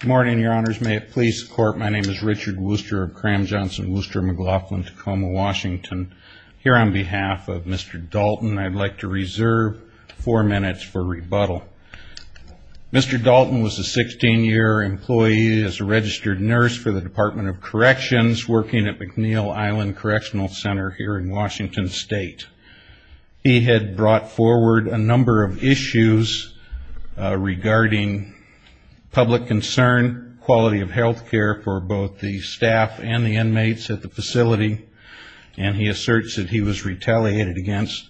Good morning, your honors. May it please the court, my name is Richard Wooster of Cram Johnson Wooster McLaughlin Tacoma, Washington. Here on behalf of Mr. Dalton I'd like to reserve four minutes for rebuttal. Mr. Dalton was a 16-year employee as a registered nurse for the Department of Corrections working at McNeil Island Correctional Center here in Washington State. He had brought a number of issues regarding public concern, quality of health care for both the staff and the inmates at the facility, and he asserts that he was retaliated against.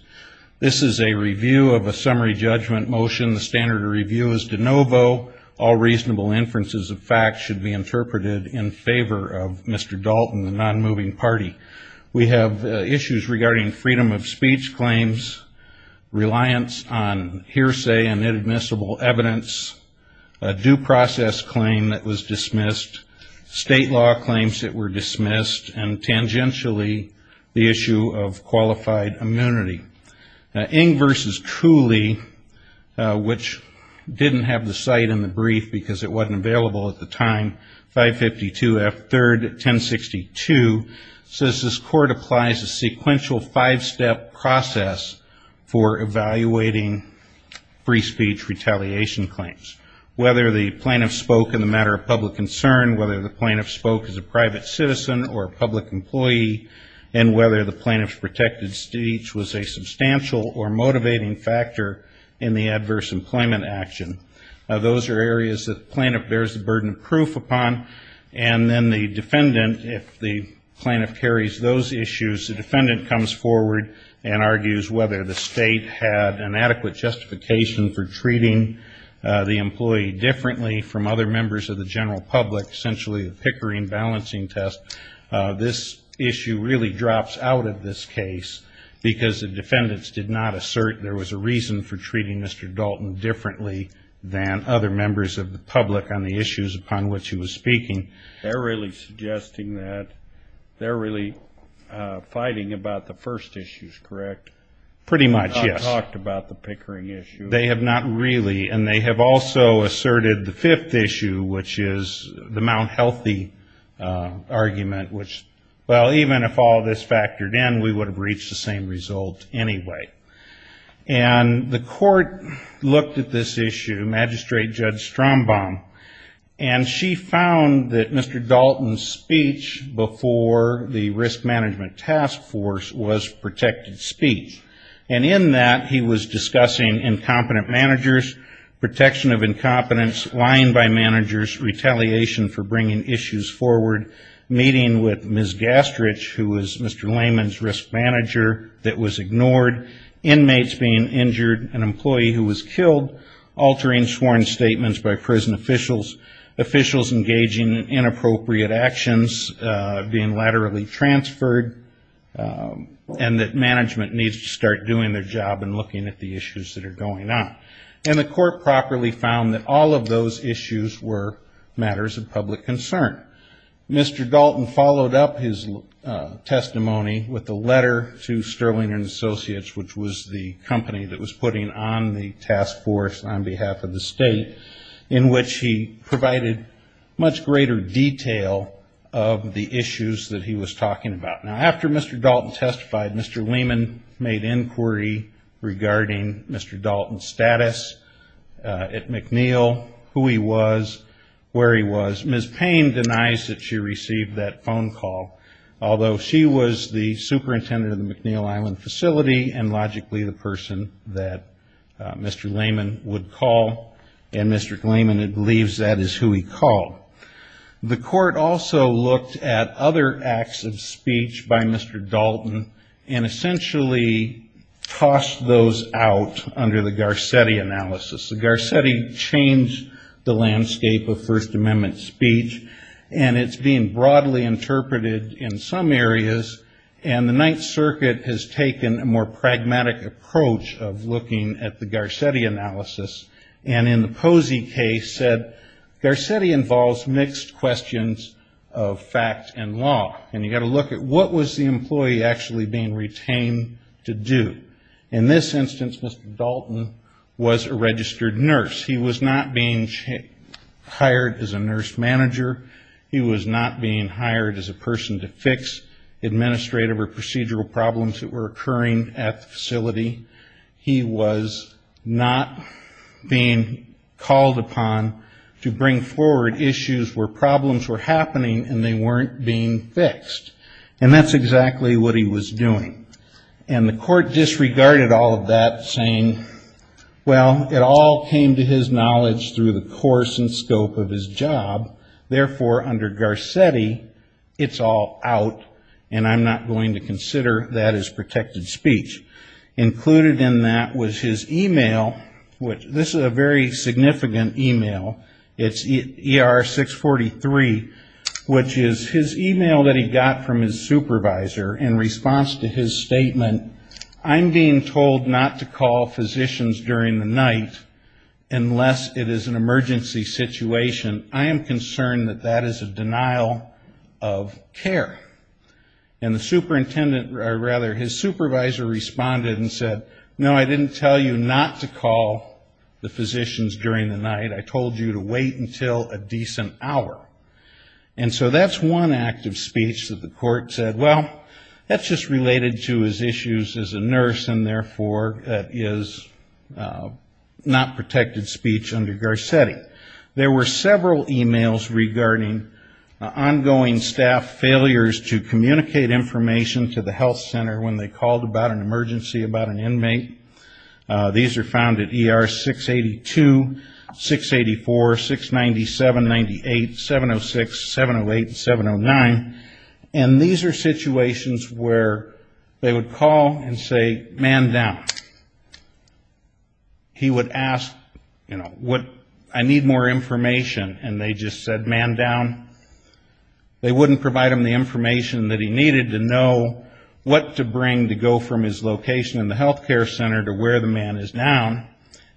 This is a review of a summary judgment motion. The standard of review is de novo. All reasonable inferences of fact should be interpreted in favor of Mr. Dalton, the non-moving party. We have issues regarding freedom of speech claims, reliance on hearsay and inadmissible evidence, a due process claim that was dismissed, state law claims that were dismissed, and tangentially the issue of qualified immunity. Ng v. Cooley, which didn't have the cite in the brief because it wasn't available at the time, 552 F. 3rd 1062, says this court applies a sequential five-step process for evaluating free speech retaliation claims. Whether the plaintiff spoke in the matter of public concern, whether the plaintiff spoke as a private citizen or a public employee, and whether the plaintiff's protected speech was a substantial or motivating factor in the adverse employment action. Now those are areas that the plaintiff bears the burden of proof upon, and then the defendant, if the plaintiff carries those issues, the defendant comes forward and argues whether the state had an adequate justification for treating the employee differently from other members of the general public, essentially a Pickering balancing test. This issue really drops out of this case because the defendants did not assert there was a reason for treating Mr. Dalton differently than other members of the public on the issues upon which he was speaking. They're really suggesting that, they're really fighting about the first issues, correct? Pretty much, yes. They haven't talked about the Pickering issue. They have not really, and they have also asserted the fifth issue, which is the Mount Healthy argument, which, well, even if all this factored in, we would have reached the same result anyway. And the court looked at this issue, Magistrate Judge Strombaum, and she found that Mr. Dalton's speech before the risk management task force was protected speech. And in that, he was discussing incompetent managers, protection of incompetence, lying by managers, retaliation for bringing issues forward, meeting with Ms. Gastrich, who was Mr. Lehman's risk manager, that was ignored, inmates being injured, an employee who was killed, altering sworn statements by prison officials, officials engaging in inappropriate actions, being laterally transferred, and that management needs to start doing their job and looking at the issues that are going on. And the court properly found that all of those issues were matters of public concern. Mr. Dalton followed up his testimony with a letter to Sterling and Associates, which was the company that was putting on the task force on behalf of the state, in which he provided much greater detail of the issues that he was talking about. Now, after Mr. Dalton testified, Mr. Lehman made inquiry regarding Mr. Dalton's status at McNeil, who he was, where he was. Ms. Payne denies that she received that phone call, although she was the superintendent of the McNeil Island facility and logically the person that Mr. Lehman would call. And Mr. Lehman believes that is who he called. The court also looked at other acts of speech by Mr. Dalton and essentially tossed those out under the Garcetti analysis. The Garcetti changed the landscape of First Amendment speech, and it's being broadly interpreted in some areas. And the Ninth Circuit has taken a more pragmatic approach of looking at the Garcetti analysis. And in Posey's case, Garcetti involves mixed questions of fact and law. And you've got to look at what was the employee actually being retained to do. In this instance, Mr. Dalton was a registered nurse. He was not being hired as a nurse manager. He was not being hired as a person to fix administrative or called upon to bring forward issues where problems were happening and they weren't being fixed. And that's exactly what he was doing. And the court disregarded all of that, saying, well, it all came to his knowledge through the course and scope of his job. Therefore, under Garcetti, it's all out, and I'm not going to consider that as protected speech. Included in that was his email, which this is a very significant email. It's ER643, which is his email that he got from his supervisor in response to his statement, I'm being told not to call physicians during the night unless it is an emergency situation. I am concerned that that is a denial of care. And the superintendent, or rather his supervisor responded and said, no, I didn't tell you not to call the physicians during the night. I told you to wait until a decent hour. And so that's one act of speech that the court said, well, that's just related to his issues as a nurse and therefore that is not protected speech under Garcetti. There were several emails regarding ongoing staff failures to communicate information to the physician about an emergency, about an inmate. These are found at ER682, 684, 697, 98, 706, 708, 709. And these are situations where they would call and say, man down. He would ask, you know, what, I need more information. And they just said, man down. They wouldn't provide him the information that he needed to know what to bring to go from his location in the health care center to where the man is down.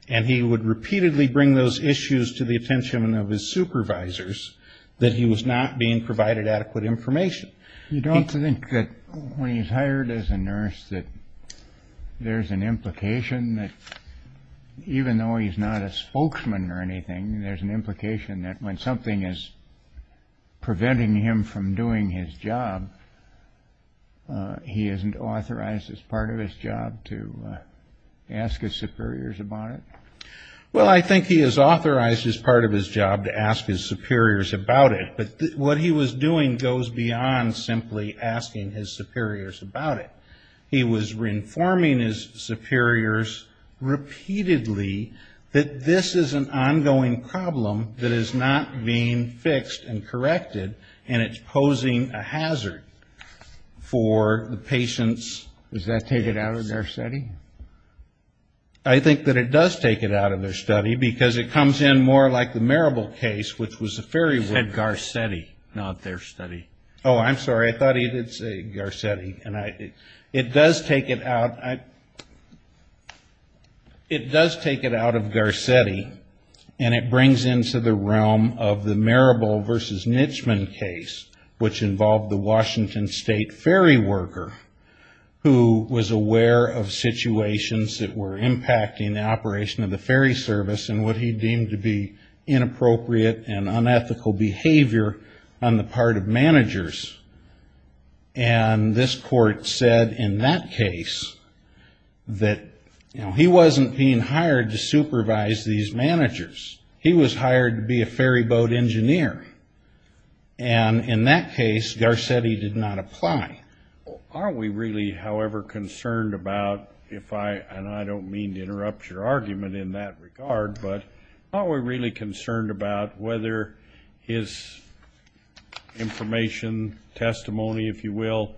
And he would repeatedly bring those issues to the attention of his supervisors that he was not being provided adequate information. You don't think that when he's hired as a nurse that there's an implication that even though he's not a spokesman or anything, there's an implication that when something is preventing him from doing his job, he isn't authorized as part of his job to ask his superiors about it? Well, I think he is authorized as part of his job to ask his superiors about it. But what he was doing goes beyond simply asking his superiors about it. He was informing his superiors repeatedly that this is an issue that's being fixed and corrected, and it's posing a hazard for the patient's... Does that take it out of Garcetti? I think that it does take it out of their study, because it comes in more like the Marable case, which was a very... He said Garcetti, not their study. Oh, I'm sorry. I thought he did say Garcetti. It does take it out of Garcetti, and it brings into the realm of the Marable v. Nitschman case, which involved the Washington State ferry worker, who was aware of situations that were impacting the operation of the ferry service and what he deemed to be inappropriate and unethical behavior on the part of managers. And this court said in that case that he wasn't being hired to supervise these managers. He was hired to be a ferry boat engineer. And in that case, Garcetti did not apply. Are we really, however, concerned about, and I don't mean to interrupt your argument in that regard, but are we really concerned about whether his information, testimony, if you will,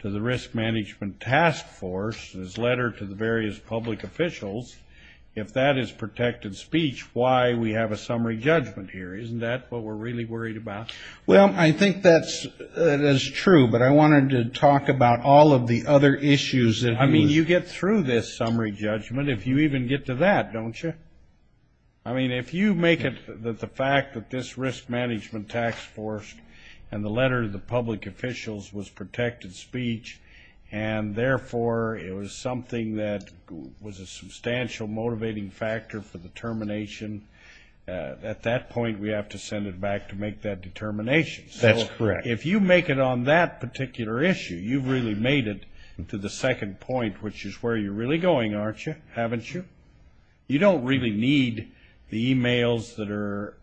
to the risk management task force, his letter to the various public officials, if that is protected speech, why we have a summary judgment here? Isn't that what we're really worried about? Well, I think that's true, but I wanted to talk about all of the other issues. I mean, you get through this summary judgment if you even get to that, don't you? I mean, if you make it that the fact that this risk management task force and the letter to the public officials was something that was a substantial motivating factor for the termination, at that point we have to send it back to make that determination. So if you make it on that particular issue, you've really made it to the second point, which is where you're really going, aren't you, haven't you? You don't really need the e-mails that are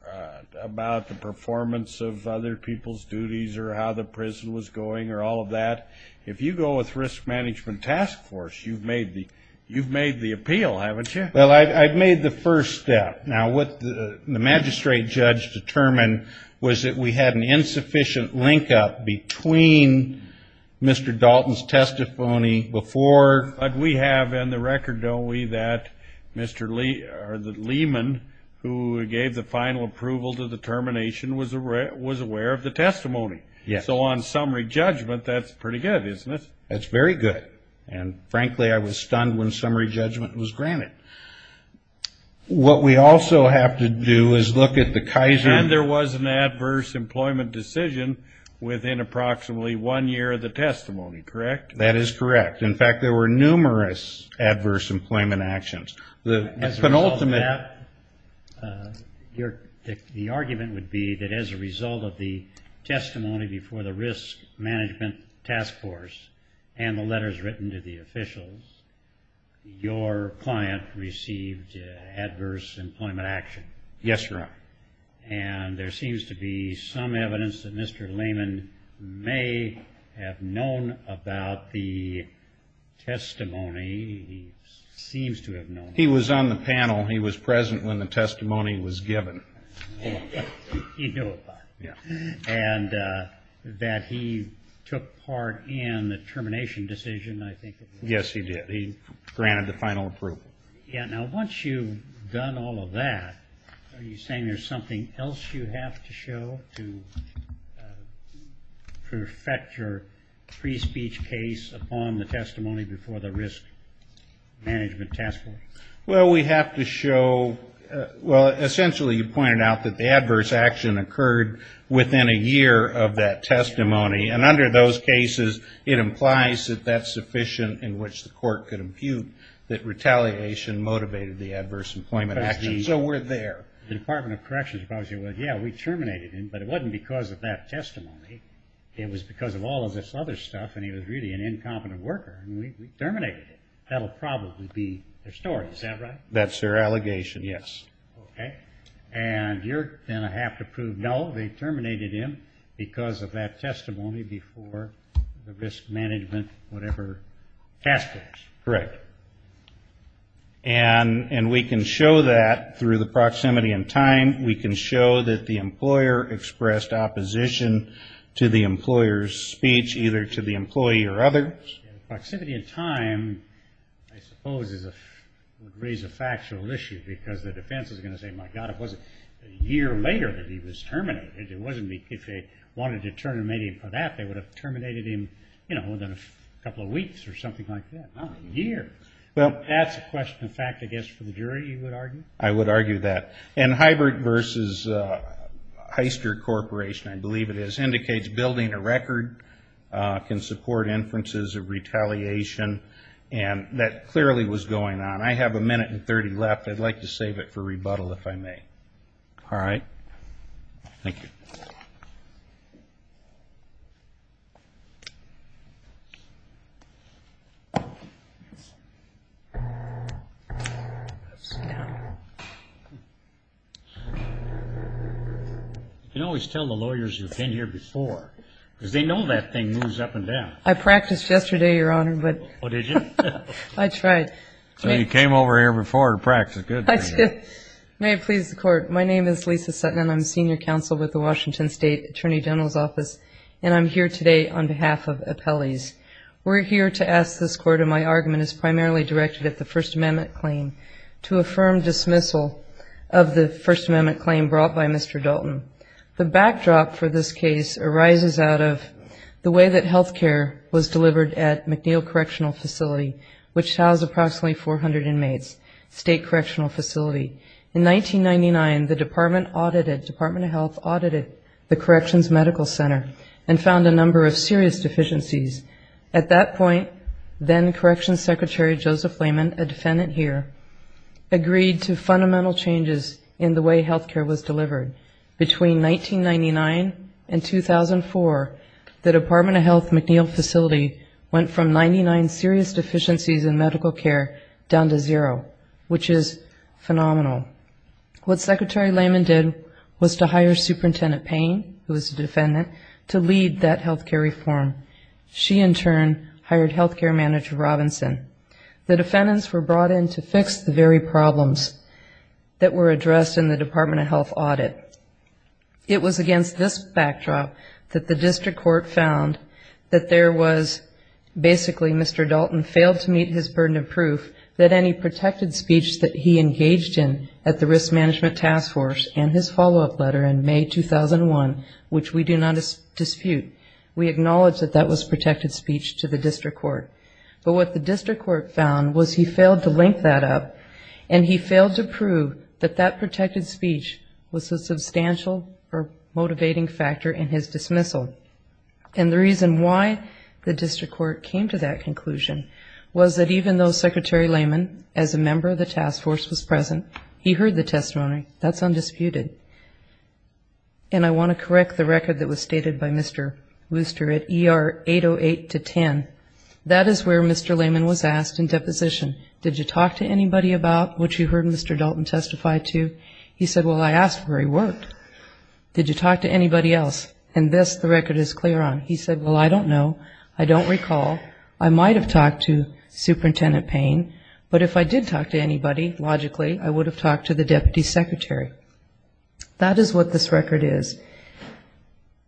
about the performance of other people's duties or how the prison was going or all of that. If you go with risk management task force, you've made the appeal, haven't you? Well, I've made the first step. Now, what the magistrate judge determined was that we had an insufficient link-up between Mr. Dalton's testimony before. But we have in the record, don't we, that Mr. Lehman, who gave the final approval to the termination, was aware of the testimony. So on summary judgment, that's pretty good, isn't it? That's very good. And frankly, I was stunned when summary judgment was granted. What we also have to do is look at the Kaiser. And there was an adverse employment decision within approximately one year of the testimony, correct? That is correct. In fact, there were numerous adverse employment actions. As a result of that, the argument would be that as a result of the testimony before the risk management task force and the letters written to the officials, your client received adverse employment action. Yes, Your Honor. And there seems to be some evidence that Mr. Lehman may have known about the testimony. He seems to have known. He was on the panel. He was present when the testimony was given. He knew about it. And that he took part in the termination decision, I think. Yes, he did. He granted the final approval. Now, once you've done all of that, are you saying there's something else you have to show to perfect your free speech case upon the testimony before the risk management task force? Well, we have to show, well, essentially you pointed out that the adverse action occurred within a year of that testimony. And under those cases, it implies that that's sufficient in which the court could impute that retaliation motivated the adverse employment action. So we're there. The Department of Corrections probably said, well, yeah, we terminated him, but it wasn't because of that testimony. It was because of all of this other stuff. And he was really an incompetent worker. And we terminated him. That'll probably be their story. Is that right? That's their allegation. Yes. And you're going to have to prove, no, they terminated him because of that testimony before the risk management whatever task force. Correct. And we can show that through the proximity in time. We can show that the employer expressed opposition to the employer's speech, either to the employee or others. Proximity in time, I suppose, would raise a factual issue because the defense is going to say, my God, it wasn't a year later that he was terminated. If they wanted to terminate him for that, they would have terminated him within a couple of weeks or something like that. Within a year. That's a question of fact, I guess, for the jury, you would argue? I would argue that. And hybrid versus Heister Corporation, I believe it is, indicates building a record can support inferences of retaliation. And that clearly was going on. I have a minute and 30 left. I'd like to save it for rebuttal, if I may. All right. Thank you. You can always tell the lawyers who have been here before, because they know that thing moves up and down. I practiced yesterday, Your Honor, but I tried. You came over here before to practice. Good. May it please the Court. My name is Lisa Sutton, and I'm senior counsel with the Washington State Attorney General's Office, and I'm here today on behalf of the Department of Health to address the first amendment claim. The first amendment claim is primarily directed at the First Amendment claim to affirm dismissal of the First Amendment claim brought by Mr. Dalton. The backdrop for this case arises out of the way that health care was delivered at McNeil Correctional Facility, which housed approximately 400 inmates, state correctional facility. In 1999, the Department of Health audited the Corrections Medical Center and found a number of serious deficiencies. At that point, then-Correctional Secretary Joseph Lehman, a defendant here, agreed to fundamental changes in the way health care was delivered. Between 1999 and 2004, the Department of Health McNeil Facility went from 99 serious deficiencies in medical care down to zero, which is phenomenal. What Secretary Lehman did was to hire Superintendent Payne, who is a defendant, to lead that health care reform. She, in turn, hired health care manager Robinson. The defendants were brought in to fix the very problems that were addressed in the Department of Health audit. It was against this backdrop that the district court found that there was basically Mr. Dalton failed to meet his burden of proof that any protected speech that he engaged in at the Risk Management Task Force and his follow-up letter in May 2001, which we do not dispute. We acknowledge that that was protected speech to the district court. But what the district court found was he failed to link that up, and he failed to prove that that protected speech was a substantial or motivating factor in his dismissal. And the reason why the district court came to that conclusion was that even though Secretary Lehman, as a member of the task force, was present, he heard the testimony. That's undisputed. And if I correct the record that was stated by Mr. Wooster at ER 808-10, that is where Mr. Lehman was asked in deposition, did you talk to anybody about what you heard Mr. Dalton testify to? He said, well, I asked where he worked. Did you talk to anybody else? And this, the record is clear on. He said, well, I don't know. I don't recall. I might have talked to Superintendent Payne, but if I did talk to anybody, logically, I would have talked to the Deputy Secretary. That is what this record is.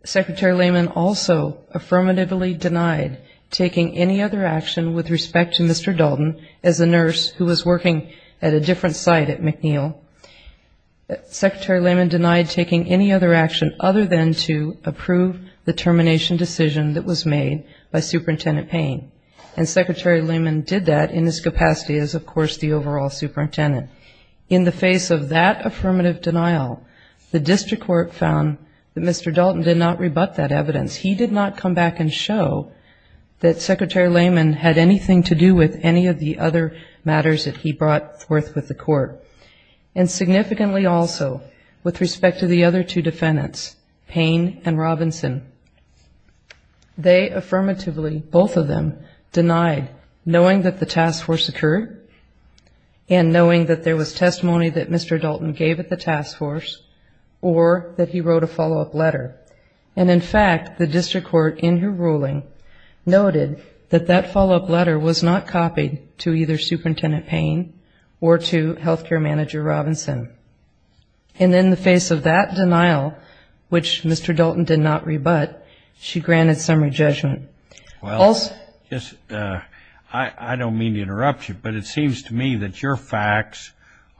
Secretary Lehman also affirmatively denied taking any other action with respect to Mr. Dalton as a nurse who was working at a different site at McNeil. Secretary Lehman denied taking any other action other than to approve the termination decision that was made by Superintendent Payne. And Secretary Lehman did that in his capacity as, of course, the overall superintendent. In the face of that affirmative denial, the district court found that Mr. Dalton did not rebut that evidence. He did not come back and show that Secretary Lehman had anything to do with any of the other matters that he brought forth with the court. And significantly also, with respect to the other two defendants, Payne and Robinson, they affirmatively, both of them, denied knowing that the task force occurred and knowing that there was testimony that Mr. Dalton gave at the task force or that he wrote a follow-up letter. And in fact, the district court, in her ruling, noted that that follow-up letter was not copied to either Superintendent Payne or to healthcare manager Robinson. And in the face of that denial, which Mr. Dalton did not rebut, she admitted that she had no intention of taking any action other than to approve the termination decision that was made by Mr. Dalton. And I'm not going to interrupt you. I don't mean to interrupt you, but it seems to me that your facts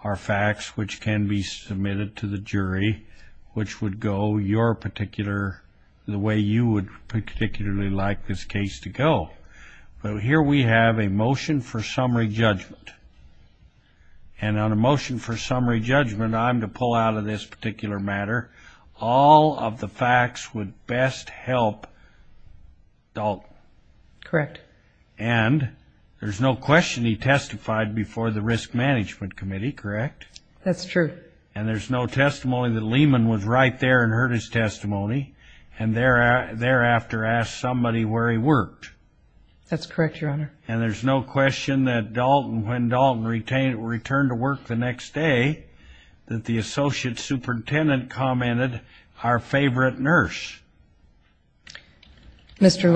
are facts which can be submitted to the jury, which would go your particular, the way you would particularly like this case to go. But here we have a motion for summary judgment. And on a motion for summary judgment, I'm to pull out of this particular matter. And there's no question he testified before the Risk Management Committee, correct? That's true. And there's no testimony that Lehman was right there and heard his testimony and thereafter asked somebody where he worked? That's correct, Your Honor. And there's no question that Dalton, when Dalton returned to work the next day, that the associate superintendent commented, our favorite nurse? That's in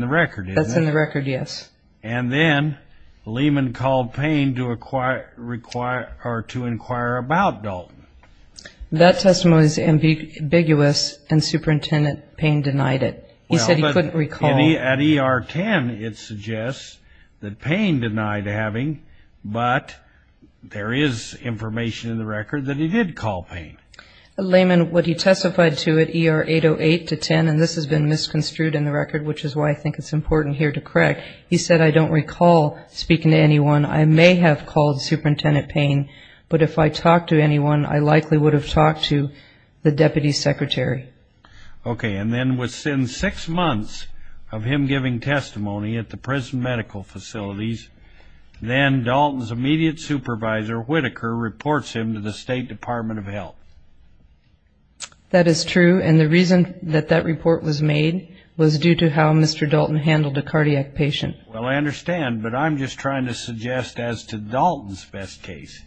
the record, isn't it? That's in the record, yes. And then Lehman called Payne to inquire about Dalton. That testimony is ambiguous, and Superintendent Payne denied it. He said he couldn't recall. At ER 10, it suggests that Payne denied having, but there is information in the record that he did call Payne. Lehman, what he testified to at ER 808 to 10, and this has been misconstrued in the record, which is why I think it's important here to correct. He said, I don't recall speaking to anyone. I may have called Superintendent Payne, but if I talked to anyone, I likely would have talked to the deputy secretary. Okay, and then within six months of him giving testimony at the prison medical facilities, then Dalton's immediate supervisor, Whitaker, reports him to the State Department of Health. That is true, and the reason that that report was made was due to how Mr. Dalton handled a cardiac patient. Well, I understand, but I'm just trying to suggest as to Dalton's best case.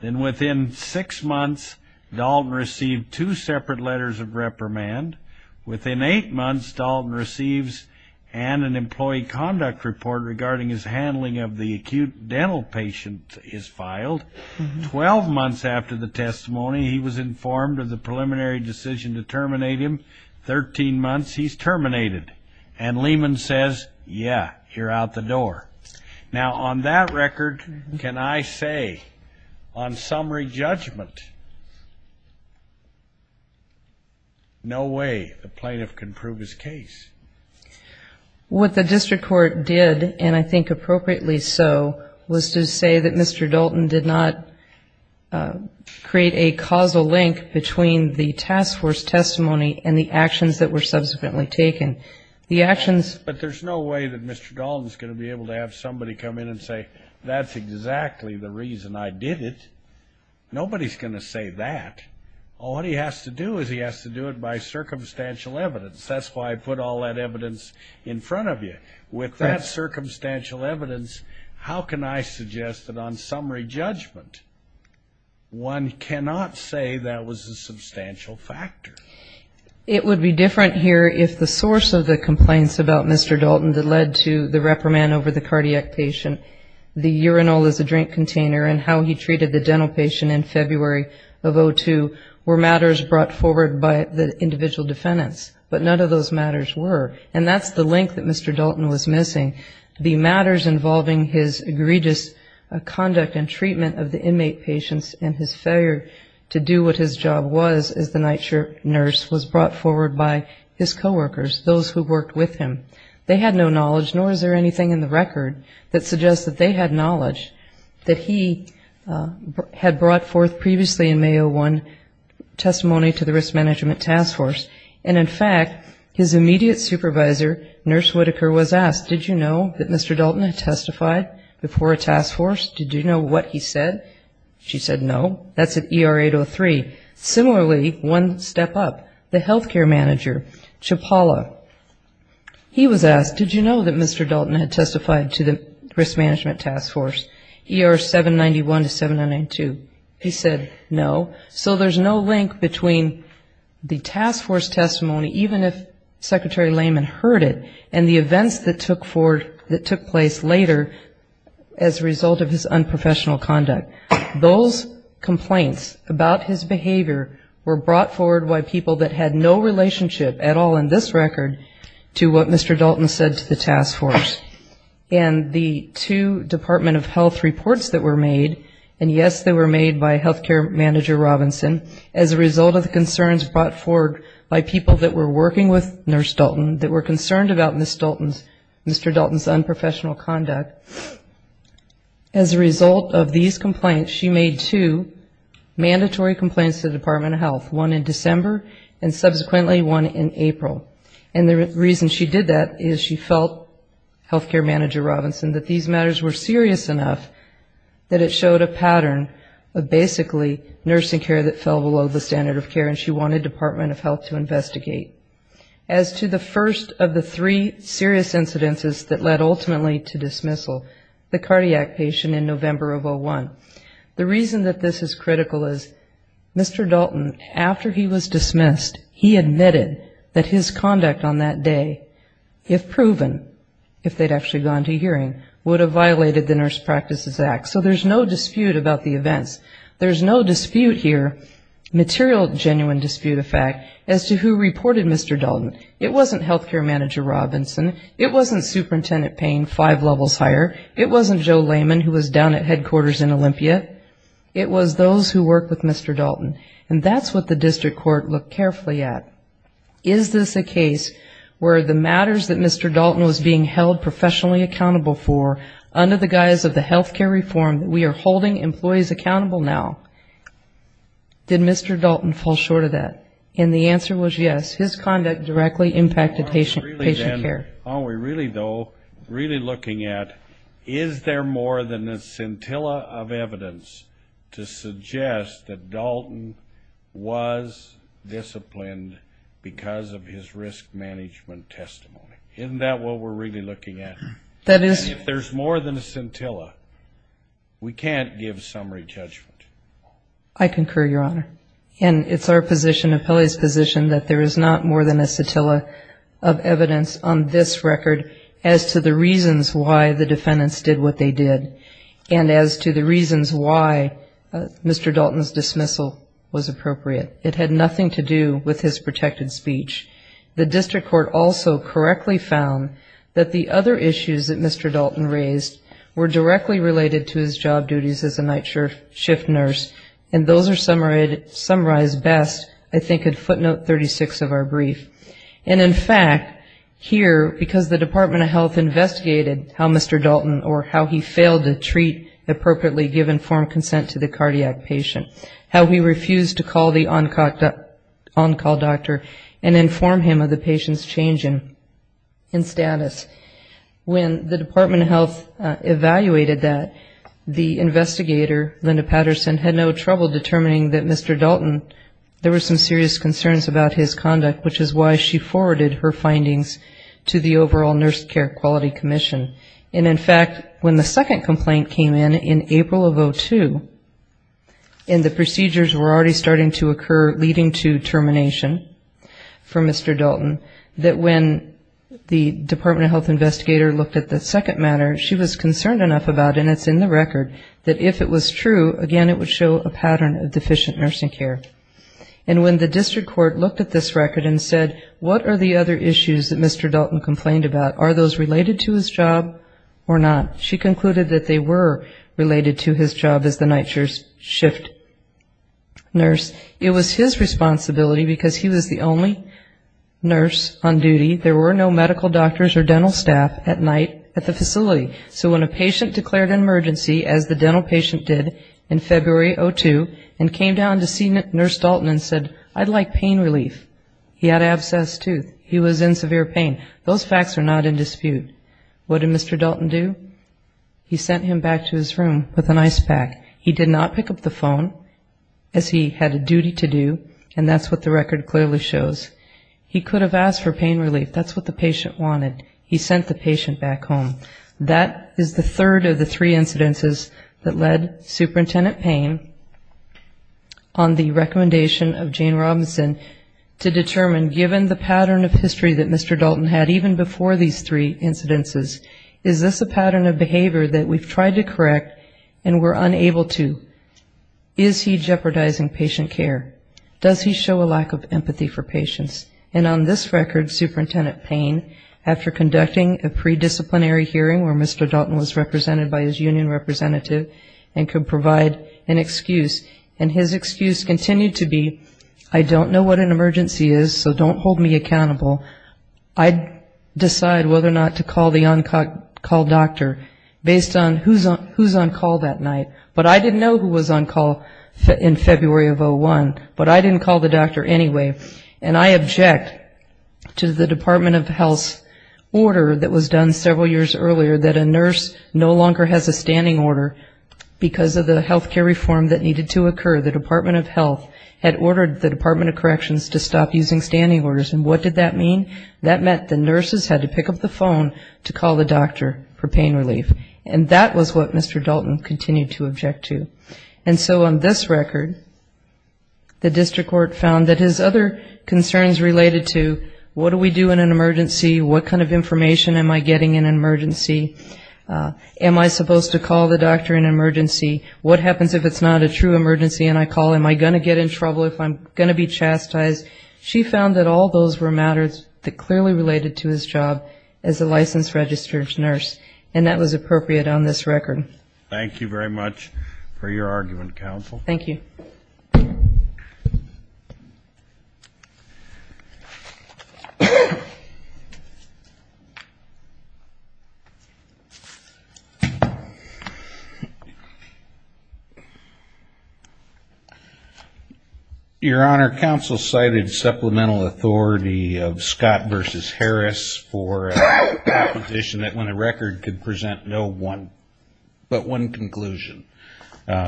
Then within six months, Dalton received two separate letters of reprimand. Within eight months, Dalton receives an employee conduct report regarding his handling of the acute dental patient is filed. Twelve months after the testimony, he was informed of the preliminary decision to terminate him. Thirteen months, he's terminated, and Lehman says, yeah, you're out the door. Now, on that record, can I say, on summary judgment, no way a plaintiff can prove his case. What the district court did, and I think appropriately so, was to say that Mr. Dalton did not create a causal link between the task force testimony and the actions that were subsequently taken. But there's no way that Mr. Dalton's going to be able to have somebody come in and say, that's exactly the reason I did it. Nobody's going to say that. All he has to do is he has to do it by circumstantial evidence. That's why I put all that evidence in front of you. With that circumstantial evidence, how can I suggest that on summary judgment, one cannot say that was a substantial factor? The first of the complaints about Mr. Dalton that led to the reprimand over the cardiac patient, the urinal as a drink container, and how he treated the dental patient in February of 2002, were matters brought forward by the individual defendants. But none of those matters were. And that's the link that Mr. Dalton was missing. The matters involving his egregious conduct and treatment of the inmate patients and his failure to do what his job was as the night shift nurse was brought forward by his co-workers, those who worked with him. They had no knowledge, nor is there anything in the record that suggests that they had knowledge that he had brought forth previously in May of 2001 testimony to the risk management task force. And in fact, his immediate supervisor, Nurse Whitaker, was asked, did you know that Mr. Dalton had testified before a task force? Did you know what he said? She said, no, that's at ER 803. Similarly, one step up, the healthcare manager, Chapala, he was asked, did you know that Mr. Dalton had testified to the risk management task force, ER 791 to 792? He said, no. So there's no link between the task force testimony, even if Secretary Lehman heard it, and the events that took place later as a result of his unprofessional conduct. Those complaints about his behavior were brought forward by people that had no relationship at all in this record to what Mr. Dalton said to the task force. And the two Department of Health reports that were made, and yes, they were made by healthcare manager Robinson, as a result of the concerns brought forward by people that were working with Nurse Dalton that were concerned about Ms. Dalton's, Mr. Dalton's unprofessional conduct. As a result of these complaints, she made two mandatory complaints to the Department of Health, one in December, and subsequently one in April. And the reason she did that is she felt, healthcare manager Robinson, that these matters were serious enough that it showed a pattern of basically nursing care that fell below the standard of care, and she wanted Department of Health to investigate. As to the first of the three serious incidences that led ultimately to dismissal, the cardiac patient in November of 2001. The reason that this is critical is Mr. Dalton, after he was dismissed, he admitted that his conduct was unprofessional. And his conduct on that day, if proven, if they'd actually gone to hearing, would have violated the Nurse Practices Act. So there's no dispute about the events. There's no dispute here, material genuine dispute of fact, as to who reported Mr. Dalton. It wasn't healthcare manager Robinson, it wasn't superintendent Payne five levels higher, it wasn't Joe Layman who was down at headquarters in Olympia, it was those who worked with Mr. Dalton. And that's what the district court looked carefully at, is this a case where the matters that Mr. Dalton was being held professionally accountable for, under the guise of the healthcare reform that we are holding employees accountable now, did Mr. Dalton fall short of that? And the answer was yes, his conduct directly impacted patient care. Are we really though, really looking at, is there more than a scintilla of evidence to suggest that Dalton was disciplined because of his risk management testimony? Isn't that what we're really looking at? If there's more than a scintilla, we can't give summary judgment. We can't give summary judgment on this record as to the reasons why the defendants did what they did, and as to the reasons why Mr. Dalton's dismissal was appropriate. It had nothing to do with his protected speech. The district court also correctly found that the other issues that Mr. Dalton raised were directly related to his job duties as a night shift nurse, and those are summarized best, I think, in footnote 36 of our brief. Because the Department of Health investigated how Mr. Dalton, or how he failed to treat appropriately, give informed consent to the cardiac patient, how he refused to call the on-call doctor and inform him of the patient's change in status. When the Department of Health evaluated that, the investigator, Linda Patterson, had no trouble determining that Mr. Dalton, there were some serious concerns about his conduct, which is why she forwarded her findings to the overall Nurse Care Quality Commission. And, in fact, when the second complaint came in, in April of 2002, and the procedures were already starting to occur, leading to termination for Mr. Dalton, that when the Department of Health investigator looked at the second matter, she was concerned enough about, and it's in the record, that if it was true, again, it would show a pattern of deficient nursing care. And when the district court looked at this record and said, what are the other issues that Mr. Dalton complained about? Are those related to his job or not? She concluded that they were related to his job as the night shift nurse. It was his responsibility, because he was the only nurse on duty, there were no medical doctors or dental staff at night at the facility. So when a patient declared an emergency, as the dental patient did in February of 2002, and came down to see Nurse Care Quality Commission, Nurse Dalton said, I'd like pain relief. He had an abscessed tooth. He was in severe pain. Those facts are not in dispute. What did Mr. Dalton do? He sent him back to his room with an ice pack. He did not pick up the phone, as he had a duty to do, and that's what the record clearly shows. He could have asked for pain relief. That's what the patient wanted. He sent the patient back home. That is the third of the three incidences that led Superintendent Payne on the recommendation of the Department of Health to determine, given the pattern of history that Mr. Dalton had even before these three incidences, is this a pattern of behavior that we've tried to correct and were unable to? Is he jeopardizing patient care? Does he show a lack of empathy for patients? And on this record, Superintendent Payne, after conducting a pre-disciplinary hearing where Mr. Dalton was represented by his union representative and could provide an excuse, and his excuse continued to be, I don't know what an emergency is, so don't hold me accountable, I decide whether or not to call the on-call doctor based on who's on call that night. But I didn't know who was on call in February of 2001, but I didn't call the doctor anyway. And I object to the Department of Health's order that was done several years earlier that a nurse no longer has a standing order because of the health care reform that needed to occur. The Department of Health had ordered the Department of Corrections to stop using standing orders. And what did that mean? That meant the nurses had to pick up the phone to call the doctor for pain relief. And that was what Mr. Dalton continued to object to. And so on this record, the district court found that his other concerns related to what do we do in an emergency, what kind of emergency, what happens if it's not a true emergency and I call, am I going to get in trouble if I'm going to be chastised, she found that all those were matters that clearly related to his job as a licensed registered nurse. And that was appropriate on this record. Thank you very much for your argument, counsel. Your Honor, counsel cited supplemental authority of Scott v. Harris for a petition that when a record could present no one but one conclusion,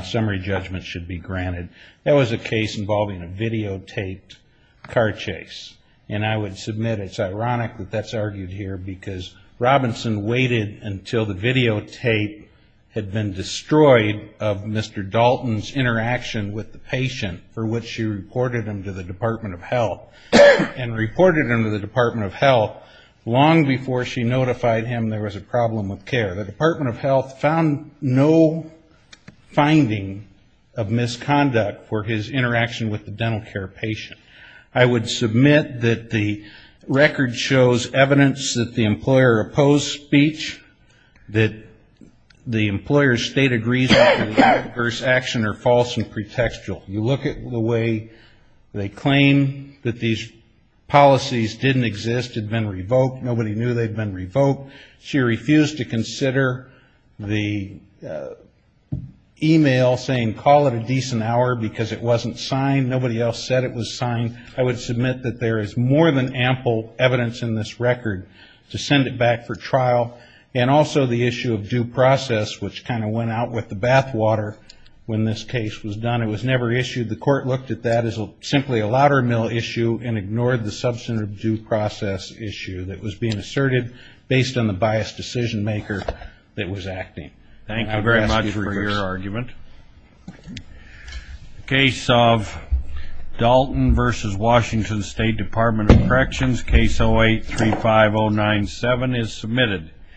summary judgment should be granted. That was a case involving a videotaped car chase. And I would submit it's ironic that that's argued here because Robinson waited until the videotape had been submitted. And it had been destroyed of Mr. Dalton's interaction with the patient for which she reported him to the Department of Health. And reported him to the Department of Health long before she notified him there was a problem with care. The Department of Health found no finding of misconduct for his interaction with the dental care patient. I would submit that the record shows evidence that the employer opposed speech, that the employer's speech was not correct. That neither state agrees that it was adverse action or false and pretextual. You look at the way they claim that these policies didn't exist, had been revoked, nobody knew they'd been revoked. She refused to consider the e-mail saying call it a decent hour because it wasn't signed. Nobody else said it was signed. I would submit that there is more than ample evidence in this record to send it back for trial. And also the issue of due process, which kind of went out with the bathwater when this case was done. It was never issued. The court looked at that as simply a lottermill issue and ignored the substantive due process issue that was being asserted based on the biased decision maker that was acting. Thank you very much for your argument. The case of Dalton v. Washington State Department of Corrections, case 08-35097 is submitted.